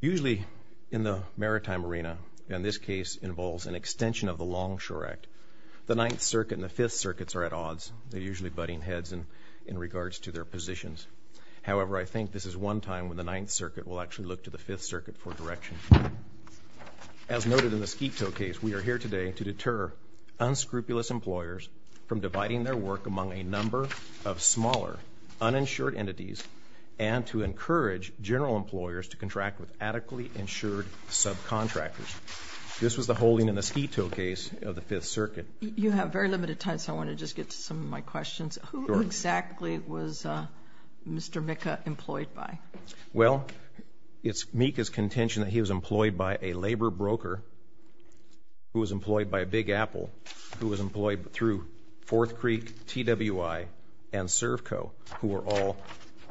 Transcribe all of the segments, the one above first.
Usually, in the maritime arena, and this case involves an extension of the Longshore Act, the Ninth Circuit and the Fifth Circuits are at odds, usually butting heads in regards to their positions. However, I think this is one time when the Ninth Circuit will actually look to the Fifth Circuit for direction. As noted in the Squito case, we are here today to deter unscrupulous employers from dividing their work among a number of smaller, uninsured entities and to encourage general employers to contract with adequately insured subcontractors. This was the holding in the Squito case of the Fifth Circuit. You have very limited time, so I want to just get to some of my questions. Who exactly was Mr. Mikha employed by? Well, it's Mikha's contention that he was employed by a labor broker who was employed by Big Apple, who was employed through Fourth Creek, TWI, and Servco, who are all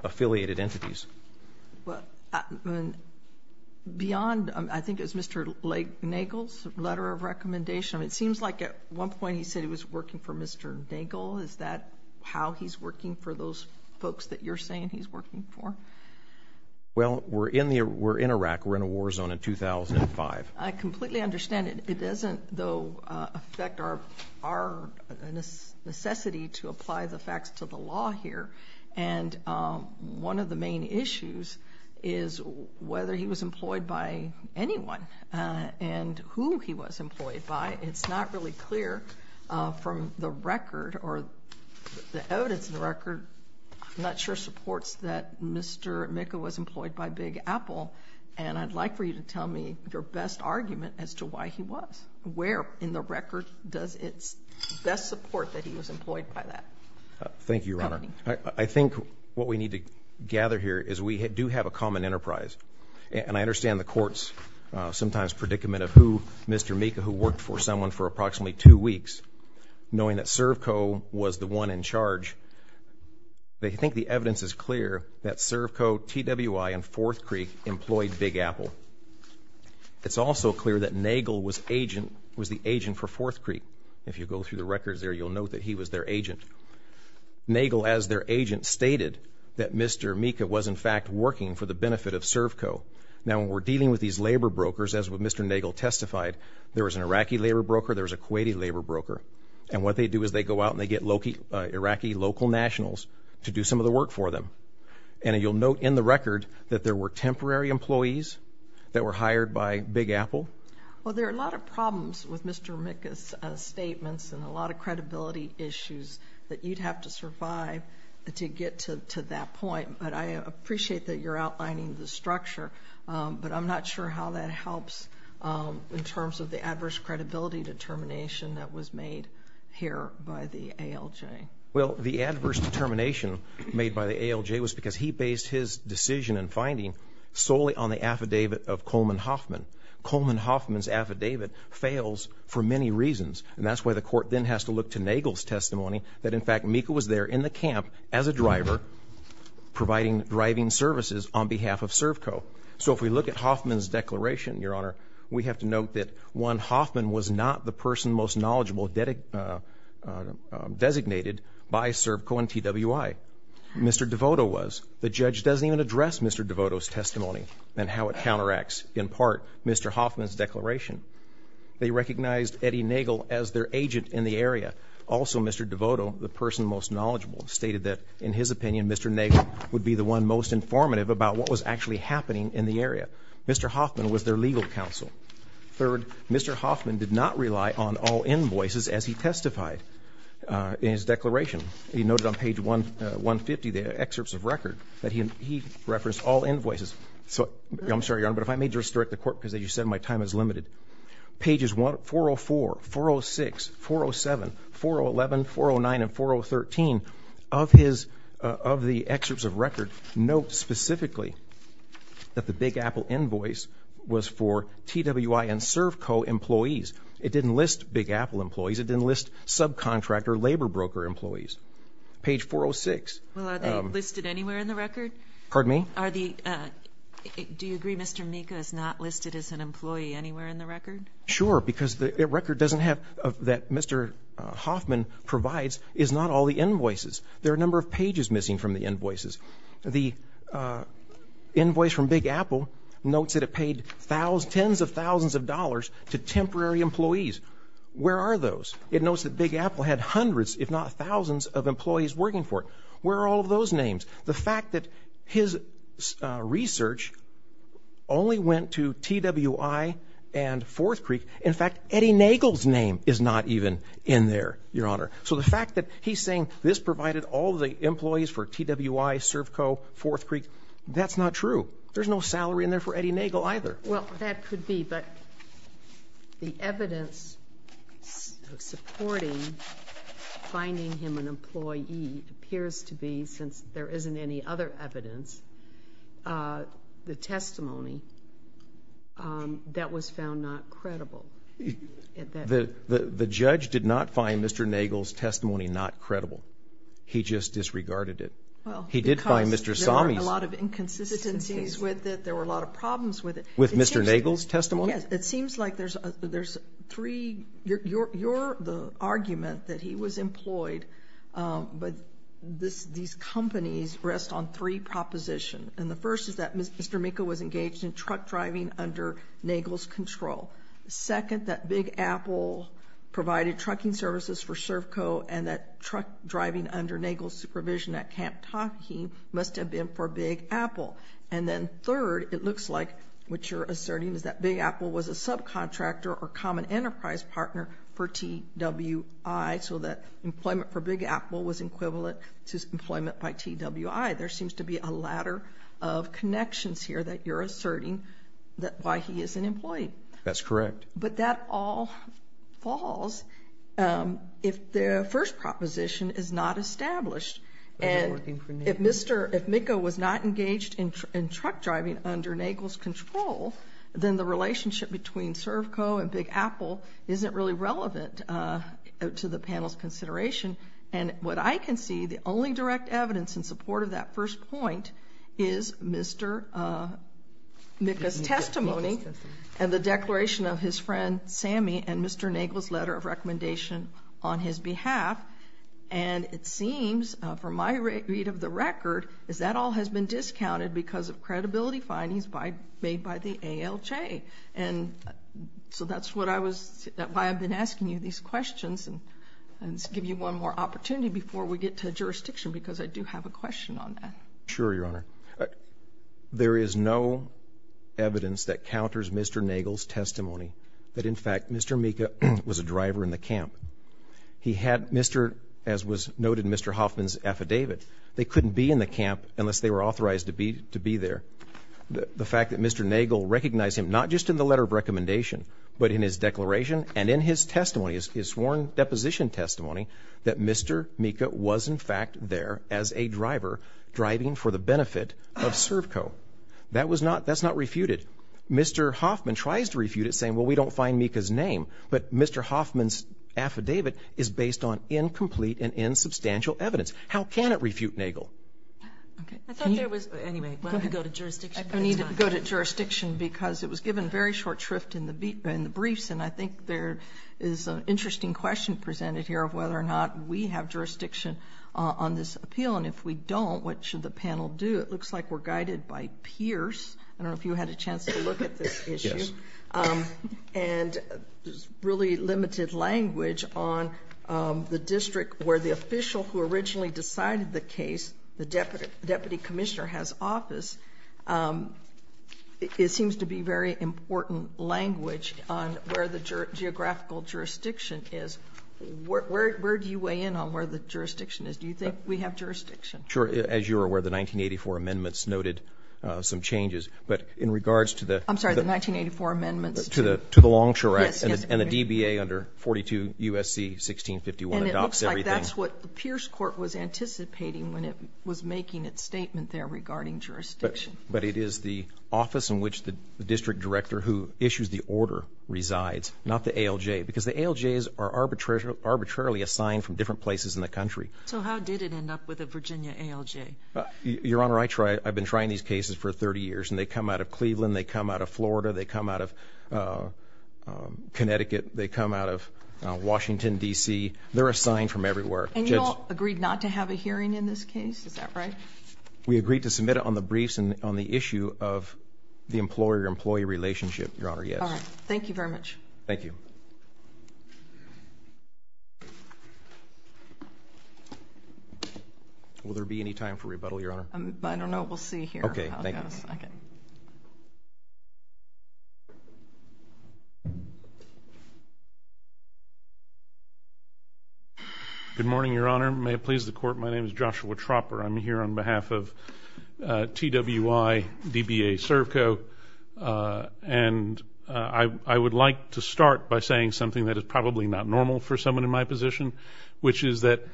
affiliated entities. Beyond, I think it was Mr. Nagel's letter of recommendation, it seems like at one point he said he was working for Mr. Nagel. Is that how he's working for those folks that you're saying he's working for? Well, we're in Iraq. We're in a war zone in 2005. I completely understand. It doesn't, though, affect our necessity to apply the facts to the law here. One of the main issues is whether he was employed by anyone and who he was employed by. It's not really clear from the record, or the evidence in the record, I'm not sure supports that Mr. Mikha was employed by Big Apple, and I'd like for you to tell me your best argument as to why he was. Where in the record does it best support that he was employed by that company? Thank you, Your Honor. I think what we need to gather here is we do have a common enterprise, and I understand the court's sometimes predicament of who Mr. Mikha, who worked for someone for approximately two weeks, knowing that Servco was the one in charge. They think the evidence is clear that Servco, TWI, and Fourth Creek employed Big Apple. It's also clear that Nagel was the agent for Fourth Creek. If you go through the records there, you'll note that he was their agent. Nagel, as their agent, stated that Mr. Mikha was, in fact, working for the benefit of Servco. Now, when we're dealing with these labor brokers, as Mr. Nagel testified, there was an Iraqi labor broker, there was a Kuwaiti labor broker. And what they do is they go out and they get Iraqi local nationals to do some of the work for them. And you'll note in the record that there were temporary employees that were hired by Big Apple. Well, there are a lot of problems with Mr. Mikha's statements and a lot of credibility issues that you'd have to survive to get to that point, but I appreciate that you're outlining the structure, but I'm not sure how that helps in terms of the adverse credibility determination that was made here by the ALJ. Well, the adverse determination made by the ALJ was because he based his decision and finding solely on the affidavit of Coleman Hoffman. Coleman Hoffman's affidavit fails for many reasons, and that's why the court then has to look to Nagel's testimony that, in fact, Mikha was there in the camp as a driver providing driving services on behalf of Servco. So if we look at Hoffman's declaration, Your Honor, we have to note that, one, Hoffman was not the person most knowledgeable designated by Servco and TWI. Mr. DeVoto was. The judge doesn't even address Mr. DeVoto's testimony and how it counteracts, in part, Mr. Hoffman's declaration. They recognized Eddie Nagel as their agent in the area. Also, Mr. DeVoto, the person most knowledgeable, stated that, in his opinion, Mr. Nagel would be the one most informative about what was actually happening in the area. Mr. Hoffman was their legal counsel. Third, Mr. Hoffman did not rely on all invoices as he testified in his declaration. He noted on page 150, the excerpts of record, that he referenced all invoices. So I'm sorry, Your Honor, but if I may just direct the court, because, as you said, my time is limited. Pages 404, 406, 407, 411, 409, and 4013 of the excerpts of record note, specifically, that the Big Apple invoice was for TWI and Servco employees. It didn't list Big Apple employees. It didn't list subcontractor, labor broker employees. Page 406. Well, are they listed anywhere in the record? Pardon me? Are the, do you agree Mr. Mika is not listed as an employee anywhere in the record? Sure, because the record doesn't have, that Mr. Hoffman provides, is not all the invoices. There are a number of pages missing from the invoices. The invoice from Big Apple notes that it paid tens of thousands of dollars to temporary employees. Where are those? It notes that Big Apple had hundreds, if not thousands, of employees working for it. Where are all of those names? The fact that his research only went to TWI and Forth Creek, in fact, Eddie Nagel's name is not even in there, your honor. So the fact that he's saying this provided all the employees for TWI, Servco, Forth Creek, that's not true. There's no salary in there for Eddie Nagel either. Well, that could be, but the evidence supporting finding him an employee appears to be, since there isn't any other evidence, the testimony, that was found not credible. The judge did not find Mr. Nagel's testimony not credible. He just disregarded it. He did find Mr. Sommey's. Well, because there were a lot of inconsistencies with it, there were a lot of problems with it. With Mr. Nagel's testimony? Yes. And it seems like there's three, your argument that he was employed, but these companies rest on three propositions, and the first is that Mr. Mikko was engaged in truck driving under Nagel's control. Second, that Big Apple provided trucking services for Servco, and that truck driving under Nagel's supervision at Camp Taki must have been for Big Apple. And then third, it looks like what you're asserting is that Big Apple was a subcontractor or common enterprise partner for TWI, so that employment for Big Apple was equivalent to employment by TWI. There seems to be a ladder of connections here that you're asserting that why he is an employee. That's correct. But that all falls if the first proposition is not established, and if Mikko was not engaged in truck driving under Nagel's control, then the relationship between Servco and Big Apple isn't really relevant to the panel's consideration. And what I can see, the only direct evidence in support of that first point is Mr. Mikko's testimony and the declaration of his friend Sammy and Mr. Nagel's letter of recommendation on his behalf. And it seems, from my read of the record, is that all has been discounted because of credibility findings made by the ALJ. And so that's why I've been asking you these questions, and to give you one more opportunity before we get to jurisdiction, because I do have a question on that. Sure, Your Honor. There is no evidence that counters Mr. Nagel's testimony that, in fact, Mr. Mikko was a driver in the camp. He had Mr. — as was noted in Mr. Hoffman's affidavit, they couldn't be in the camp unless they were authorized to be there. The fact that Mr. Nagel recognized him, not just in the letter of recommendation, but in his declaration and in his testimony, his sworn deposition testimony, that Mr. Mikko was, in fact, there as a driver driving for the benefit of Servco. That was not — that's not refuted. Mr. Hoffman tries to refute it, saying, well, we don't find Mikko's name. But Mr. Hoffman's affidavit is based on incomplete and insubstantial evidence. How can it refute Nagel? Okay. I thought there was — anyway, why don't we go to jurisdiction? I need to go to jurisdiction because it was given very short shrift in the briefs, and I think there is an interesting question presented here of whether or not we have jurisdiction on this appeal. And if we don't, what should the panel do? It looks like we're guided by Pierce. I don't know if you had a chance to look at this issue. Yes. And there's really limited language on the district where the official who originally decided the case, the deputy commissioner has office. It seems to be very important language on where the geographical jurisdiction is. Where do you weigh in on where the jurisdiction is? Do you think we have jurisdiction? Sure. As you are aware, the 1984 amendments noted some changes. But in regards to the — The 1984 amendments to — To the Longshore Act. Yes, yes. And the DBA under 42 U.S.C. 1651 adopts everything. And it looks like that's what the Pierce court was anticipating when it was making its statement there regarding jurisdiction. But it is the office in which the district director who issues the order resides, not the ALJ, because the ALJs are arbitrarily assigned from different places in the country. So how did it end up with the Virginia ALJ? They come out of Oregon. They come out of Florida. They come out of Connecticut. They come out of Washington, D.C. They're assigned from everywhere. And you all agreed not to have a hearing in this case? Is that right? We agreed to submit it on the briefs and on the issue of the employer-employee relationship, Your Honor. Yes. All right. Thank you very much. Thank you. Will there be any time for rebuttal, Your Honor? I don't know. We'll see here. Okay. Thank you. Thank you. Thank you. We have a second. Good morning, Your Honor. May it please the Court. My name is Joshua Tropper. I'm here on behalf of TWI, DBA Servco, and I would like to start by saying something that is probably not normal for someone in my position, which is that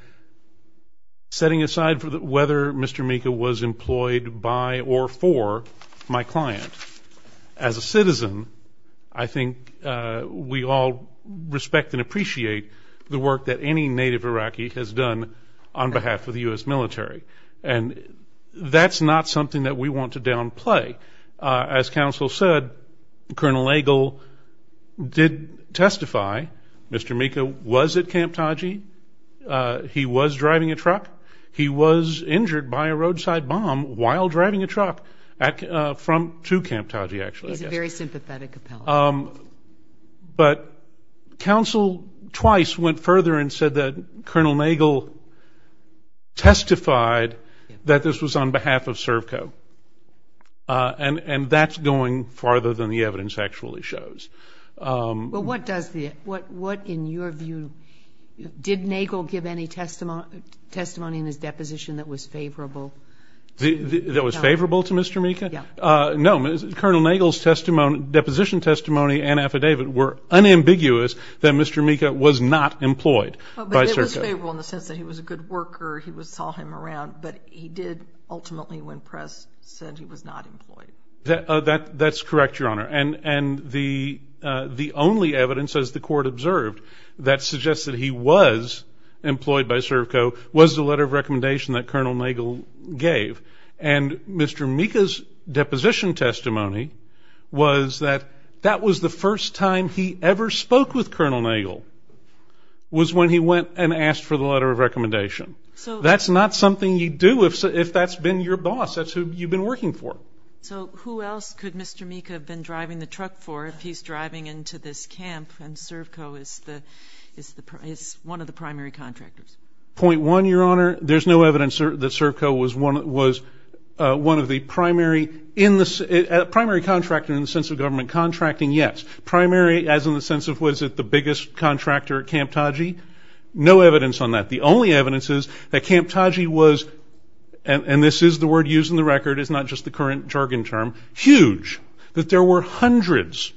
setting aside whether Mr. Mika was employed by or for my client. As a citizen, I think we all respect and appreciate the work that any native Iraqi has done on behalf of the U.S. military. And that's not something that we want to downplay. As counsel said, Colonel Agle did testify Mr. Mika was at Camp Taji. He was driving a truck. He was injured by a roadside bomb while driving a truck from to Camp Taji, actually, I guess. He's a very sympathetic appellate. But counsel twice went further and said that Colonel Nagel testified that this was on behalf of Servco. And that's going farther than the evidence actually shows. Well, what does the, what in your view, did Nagel give any testimony in his deposition that was favorable? That was favorable to Mr. Mika? Yeah. No, Colonel Nagel's deposition testimony and affidavit were unambiguous that Mr. Mika was not employed by Servco. But it was favorable in the sense that he was a good worker, he saw him around, but he did ultimately when press said he was not employed. That's correct, Your Honor. And the only evidence, as the court observed, that suggests that he was employed by Servco was the letter of recommendation that Colonel Nagel gave. And Mr. Mika's deposition testimony was that that was the first time he ever spoke with Colonel Nagel was when he went and asked for the letter of recommendation. That's not something you do if that's been your boss. That's who you've been working for. So who else could Mr. Mika have been driving the truck for if he's driving into this camp and Servco is the, is one of the primary contractors? Point one, Your Honor, there's no evidence that Servco was one of the primary, primary contractor in the sense of government contracting, yes. Primary as in the sense of was it the biggest contractor at Camp Taji? No evidence on that. The only evidence is that Camp Taji was, and this is the word used in the record, is not just the current jargon term, huge, that there were hundreds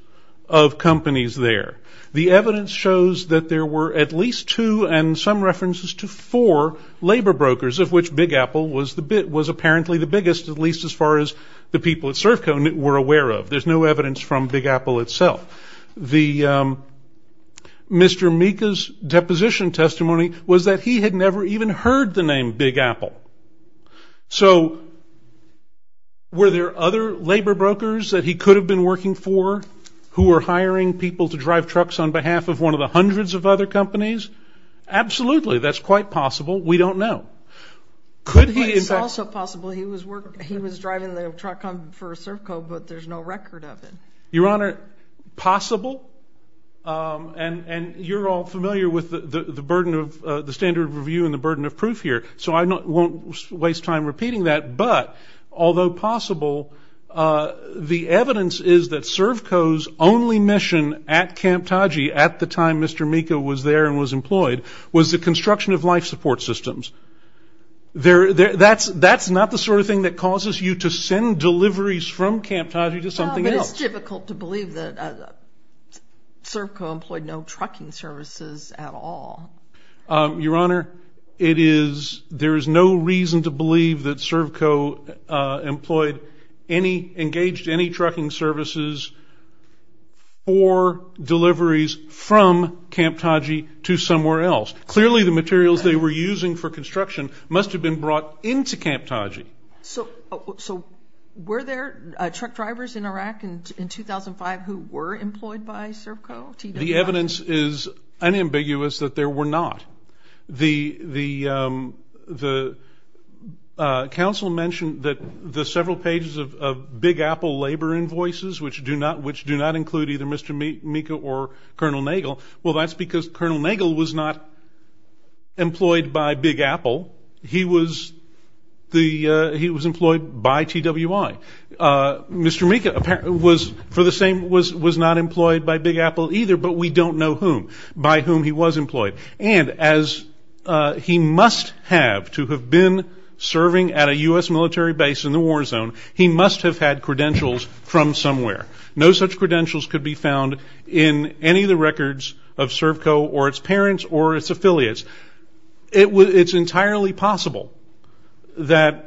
of companies there. The evidence shows that there were at least two and some references to four labor brokers of which Big Apple was apparently the biggest, at least as far as the people at Servco were aware of. There's no evidence from Big Apple itself. The Mr. Mika's deposition testimony was that he had never even heard the name Big Apple. So were there other labor brokers that he could have been working for who were hiring people to drive trucks on behalf of one of the hundreds of other companies? Absolutely. That's quite possible. We don't know. Could he? It's also possible he was driving the truck for Servco but there's no record of it. Your Honor, possible, and you're all familiar with the burden of, the standard of review and the burden of proof here, so I won't waste time repeating that, but although possible, the evidence is that Servco's only mission at Camp Taji at the time Mr. Mika was there and was employed was the construction of life support systems. That's not the sort of thing that causes you to send deliveries from Camp Taji to something else. But it's difficult to believe that Servco employed no trucking services at all. Your Honor, it is, there is no reason to believe that Servco employed any, engaged any trucking services for deliveries from Camp Taji to somewhere else. Clearly the materials they were using for construction must have been brought into Camp Taji. So were there truck drivers in Iraq in 2005 who were employed by Servco? The evidence is unambiguous that there were not. The council mentioned that the several pages of Big Apple labor invoices which do not include either Mr. Mika or Colonel Nagel, well that's because Colonel Nagel was not employed by Big Apple, he was employed by TWI. Mr. Mika was not employed by Big Apple either, but we don't know who, by whom he was employed. And as he must have to have been serving at a U.S. military base in the war zone, he must have had credentials from somewhere. No such credentials could be found in any of the records of Servco or its parents or its affiliates. It's entirely possible that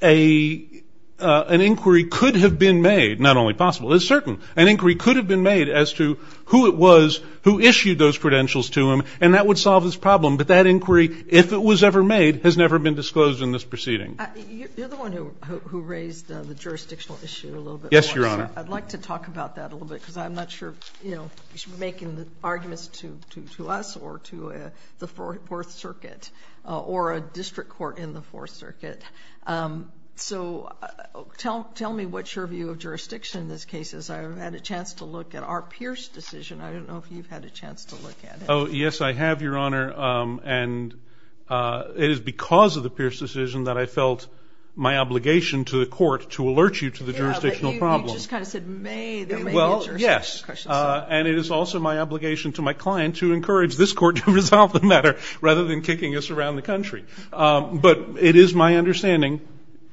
an inquiry could have been made, not only possible, it's certain, an inquiry could have been made as to who it was who issued those credentials to him and that would solve this problem, but that inquiry, if it was ever made, has never been disclosed in this proceeding. You're the one who raised the jurisdictional issue a little bit more. Yes, Your Honor. I'd like to talk about that a little bit because I'm not sure, you know, you should be making the arguments to us or to the Fourth Circuit or a district court in the Fourth Circuit. So tell me what's your view of jurisdiction in this case, as I've had a chance to look at our Pierce decision. I don't know if you've had a chance to look at it. Oh, yes, I have, Your Honor, and it is because of the Pierce decision that I felt my obligation to the court to alert you to the jurisdictional problem. Yeah, but you just kind of said, may they may answer some questions. Well, yes. And it is also my obligation to my client to encourage this court to resolve the matter rather than kicking us around the country. But it is my understanding,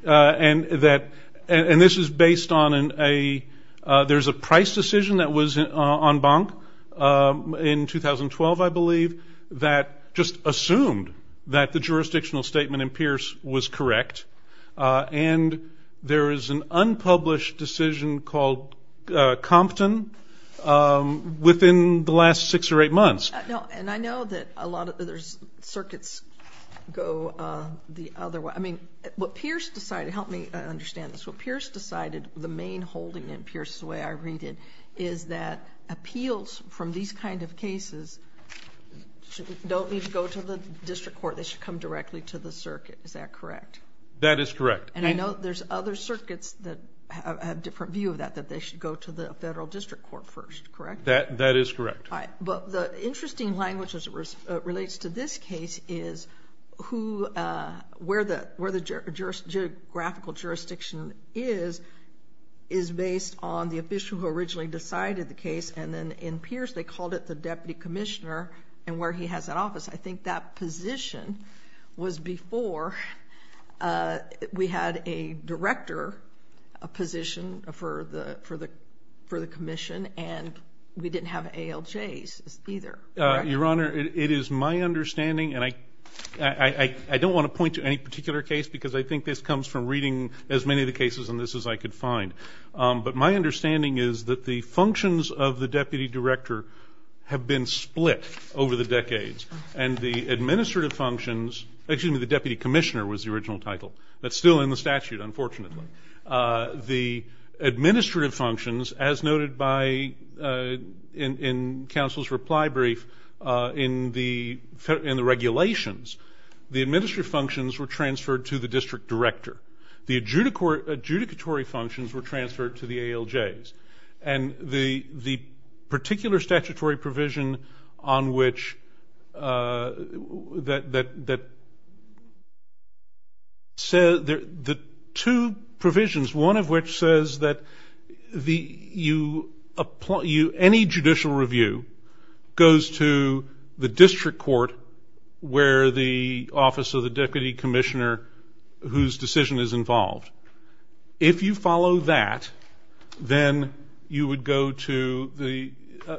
and that, and this is based on a, there's a price decision that was en banc in 2012, I believe, that just assumed that the jurisdictional statement in Pierce was correct. And there is an unpublished decision called Compton within the last six or eight months. No, and I know that a lot of, there's circuits go the other way. I mean, what Pierce decided, help me understand this, what Pierce decided, the main holding in Pierce, the way I read it, is that appeals from these kind of cases don't need to go to the district court, they should come directly to the circuit, is that correct? That is correct. And I know there's other circuits that have a different view of that, that they should go to the federal district court first, correct? That is correct. All right. But the interesting language as it relates to this case is who, where the geographical jurisdiction is, is based on the official who originally decided the case. And then in Pierce, they called it the deputy commissioner and where he has that office. I think that position was before we had a director position for the commission and we didn't have ALJs either, correct? Your Honor, it is my understanding, and I don't want to point to any particular case because I think this comes from reading as many of the cases in this as I could find. But my understanding is that the functions of the deputy director have been split over the decades and the administrative functions, excuse me, the deputy commissioner was the original title. That's still in the statute, unfortunately. The administrative functions, as noted by, in counsel's reply brief, in the regulations, the administrative functions were transferred to the district director. The adjudicatory functions were transferred to the ALJs. And the particular statutory provision on which, that says, the two provisions, one of which says that the, you, any judicial review goes to the district court where the office of the deputy commissioner whose decision is involved. If you follow that, then you would go to the,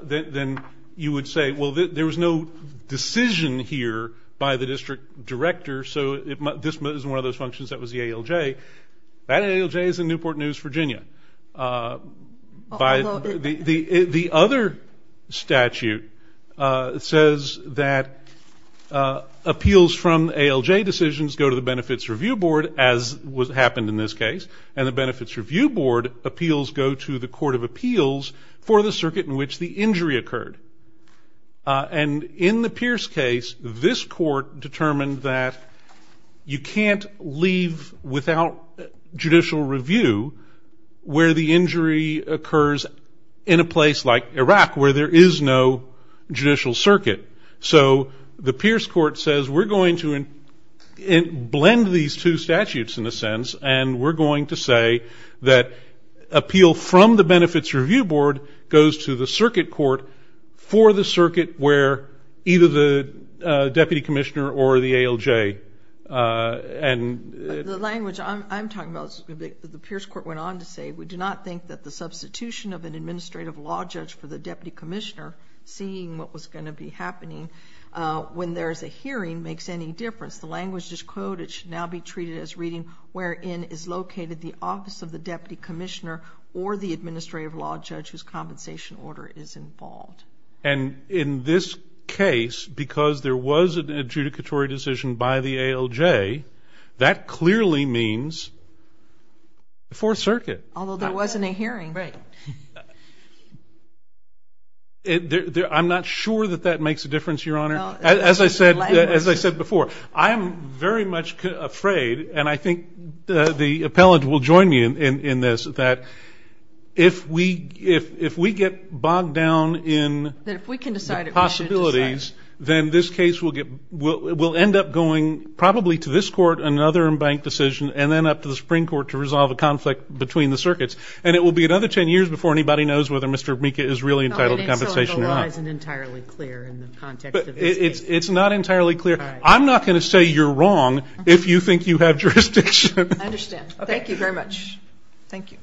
then you would say, well, there was no decision here by the district director, so this is one of those functions that was the ALJ. That ALJ is in Newport News, Virginia. The other statute says that appeals from ALJ decisions go to the benefits review board as what happened in this case, and the benefits review board appeals go to the court of appeals for the circuit in which the injury occurred. And in the Pierce case, this court determined that you can't leave without judicial review where the injury occurs in a place like Iraq where there is no judicial circuit. So the Pierce court says, we're going to blend these two statutes in a sense, and we're going to say that appeal from the benefits review board goes to the circuit court for the circuit where either the deputy commissioner or the ALJ, and the language I'm talking about, the Pierce court went on to say, we do not think that the substitution of an administrative law judge for the deputy commissioner, seeing what was going to be happening when there is a hearing, makes any difference. The language is, quote, it should now be treated as reading wherein is located the office of the deputy commissioner or the administrative law judge whose compensation order is involved. And in this case, because there was an adjudicatory decision by the ALJ, that clearly means the Fourth Circuit. Although there wasn't a hearing. Right. I'm not sure that that makes a difference, Your Honor. As I said before, I am very much afraid, and I think the appellant will join me in this, that if we get bogged down in the possibilities, then this case will end up going probably to this court, another embanked decision, and then up to the Supreme Court to resolve a conflict between the circuits. And it will be another 10 years before anybody knows whether Mr. Mika is really entitled to compensation or not. And so the law isn't entirely clear in the context of this case. It's not entirely clear. I'm not going to say you're wrong if you think you have jurisdiction. I understand. Thank you very much. Thank you.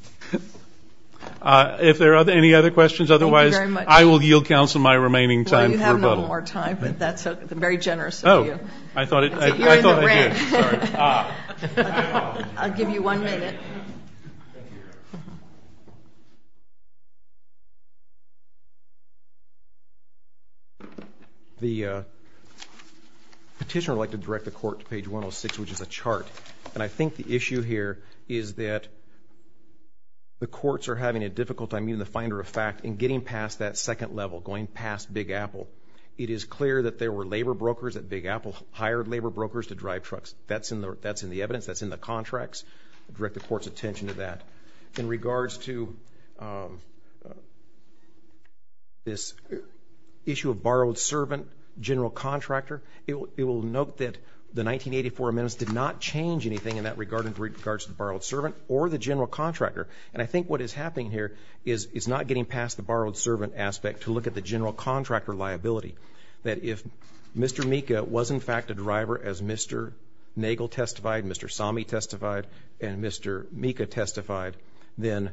If there are any other questions, otherwise, I will yield counsel my remaining time for rebuttal. Well, you have no more time, but that's very generous of you. I thought I did. You're in the red. Sorry. I'll give you one minute. Thank you, Your Honor. The petitioner would like to direct the court to page 106, which is a chart. And I think the issue here is that the courts are having a difficult time being the finder of fact in getting past that second level, going past Big Apple. It is clear that there were labor brokers at Big Apple hired labor brokers to drive trucks. That's in the evidence. That's in the contracts. I'll direct the court's attention to that. In regards to this issue of borrowed servant, general contractor, it will note that the 1984 amendments did not change anything in that regard in regards to the borrowed servant or the general contractor. And I think what is happening here is it's not getting past the borrowed servant aspect to look at the general contractor liability. That if Mr. Mika was, in fact, a driver as Mr. Nagel testified, Mr. Somme testified, and Mr. Mika testified, and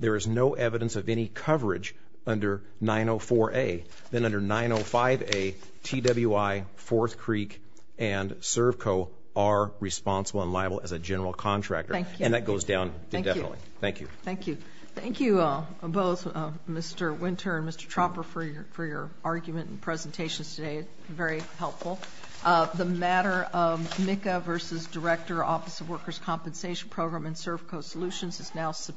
there is no evidence of any coverage under 904A, then under 905A, TWI, Fourth Creek, and Servco are responsible and liable as a general contractor. And that goes down indefinitely. Thank you. Thank you. Thank you both, Mr. Winter and Mr. Tropper, for your argument and presentations today. Very helpful. The matter of Mika v. Director, Office of Workers' Compensation Program, and Servco Solutions is now subpoenaed.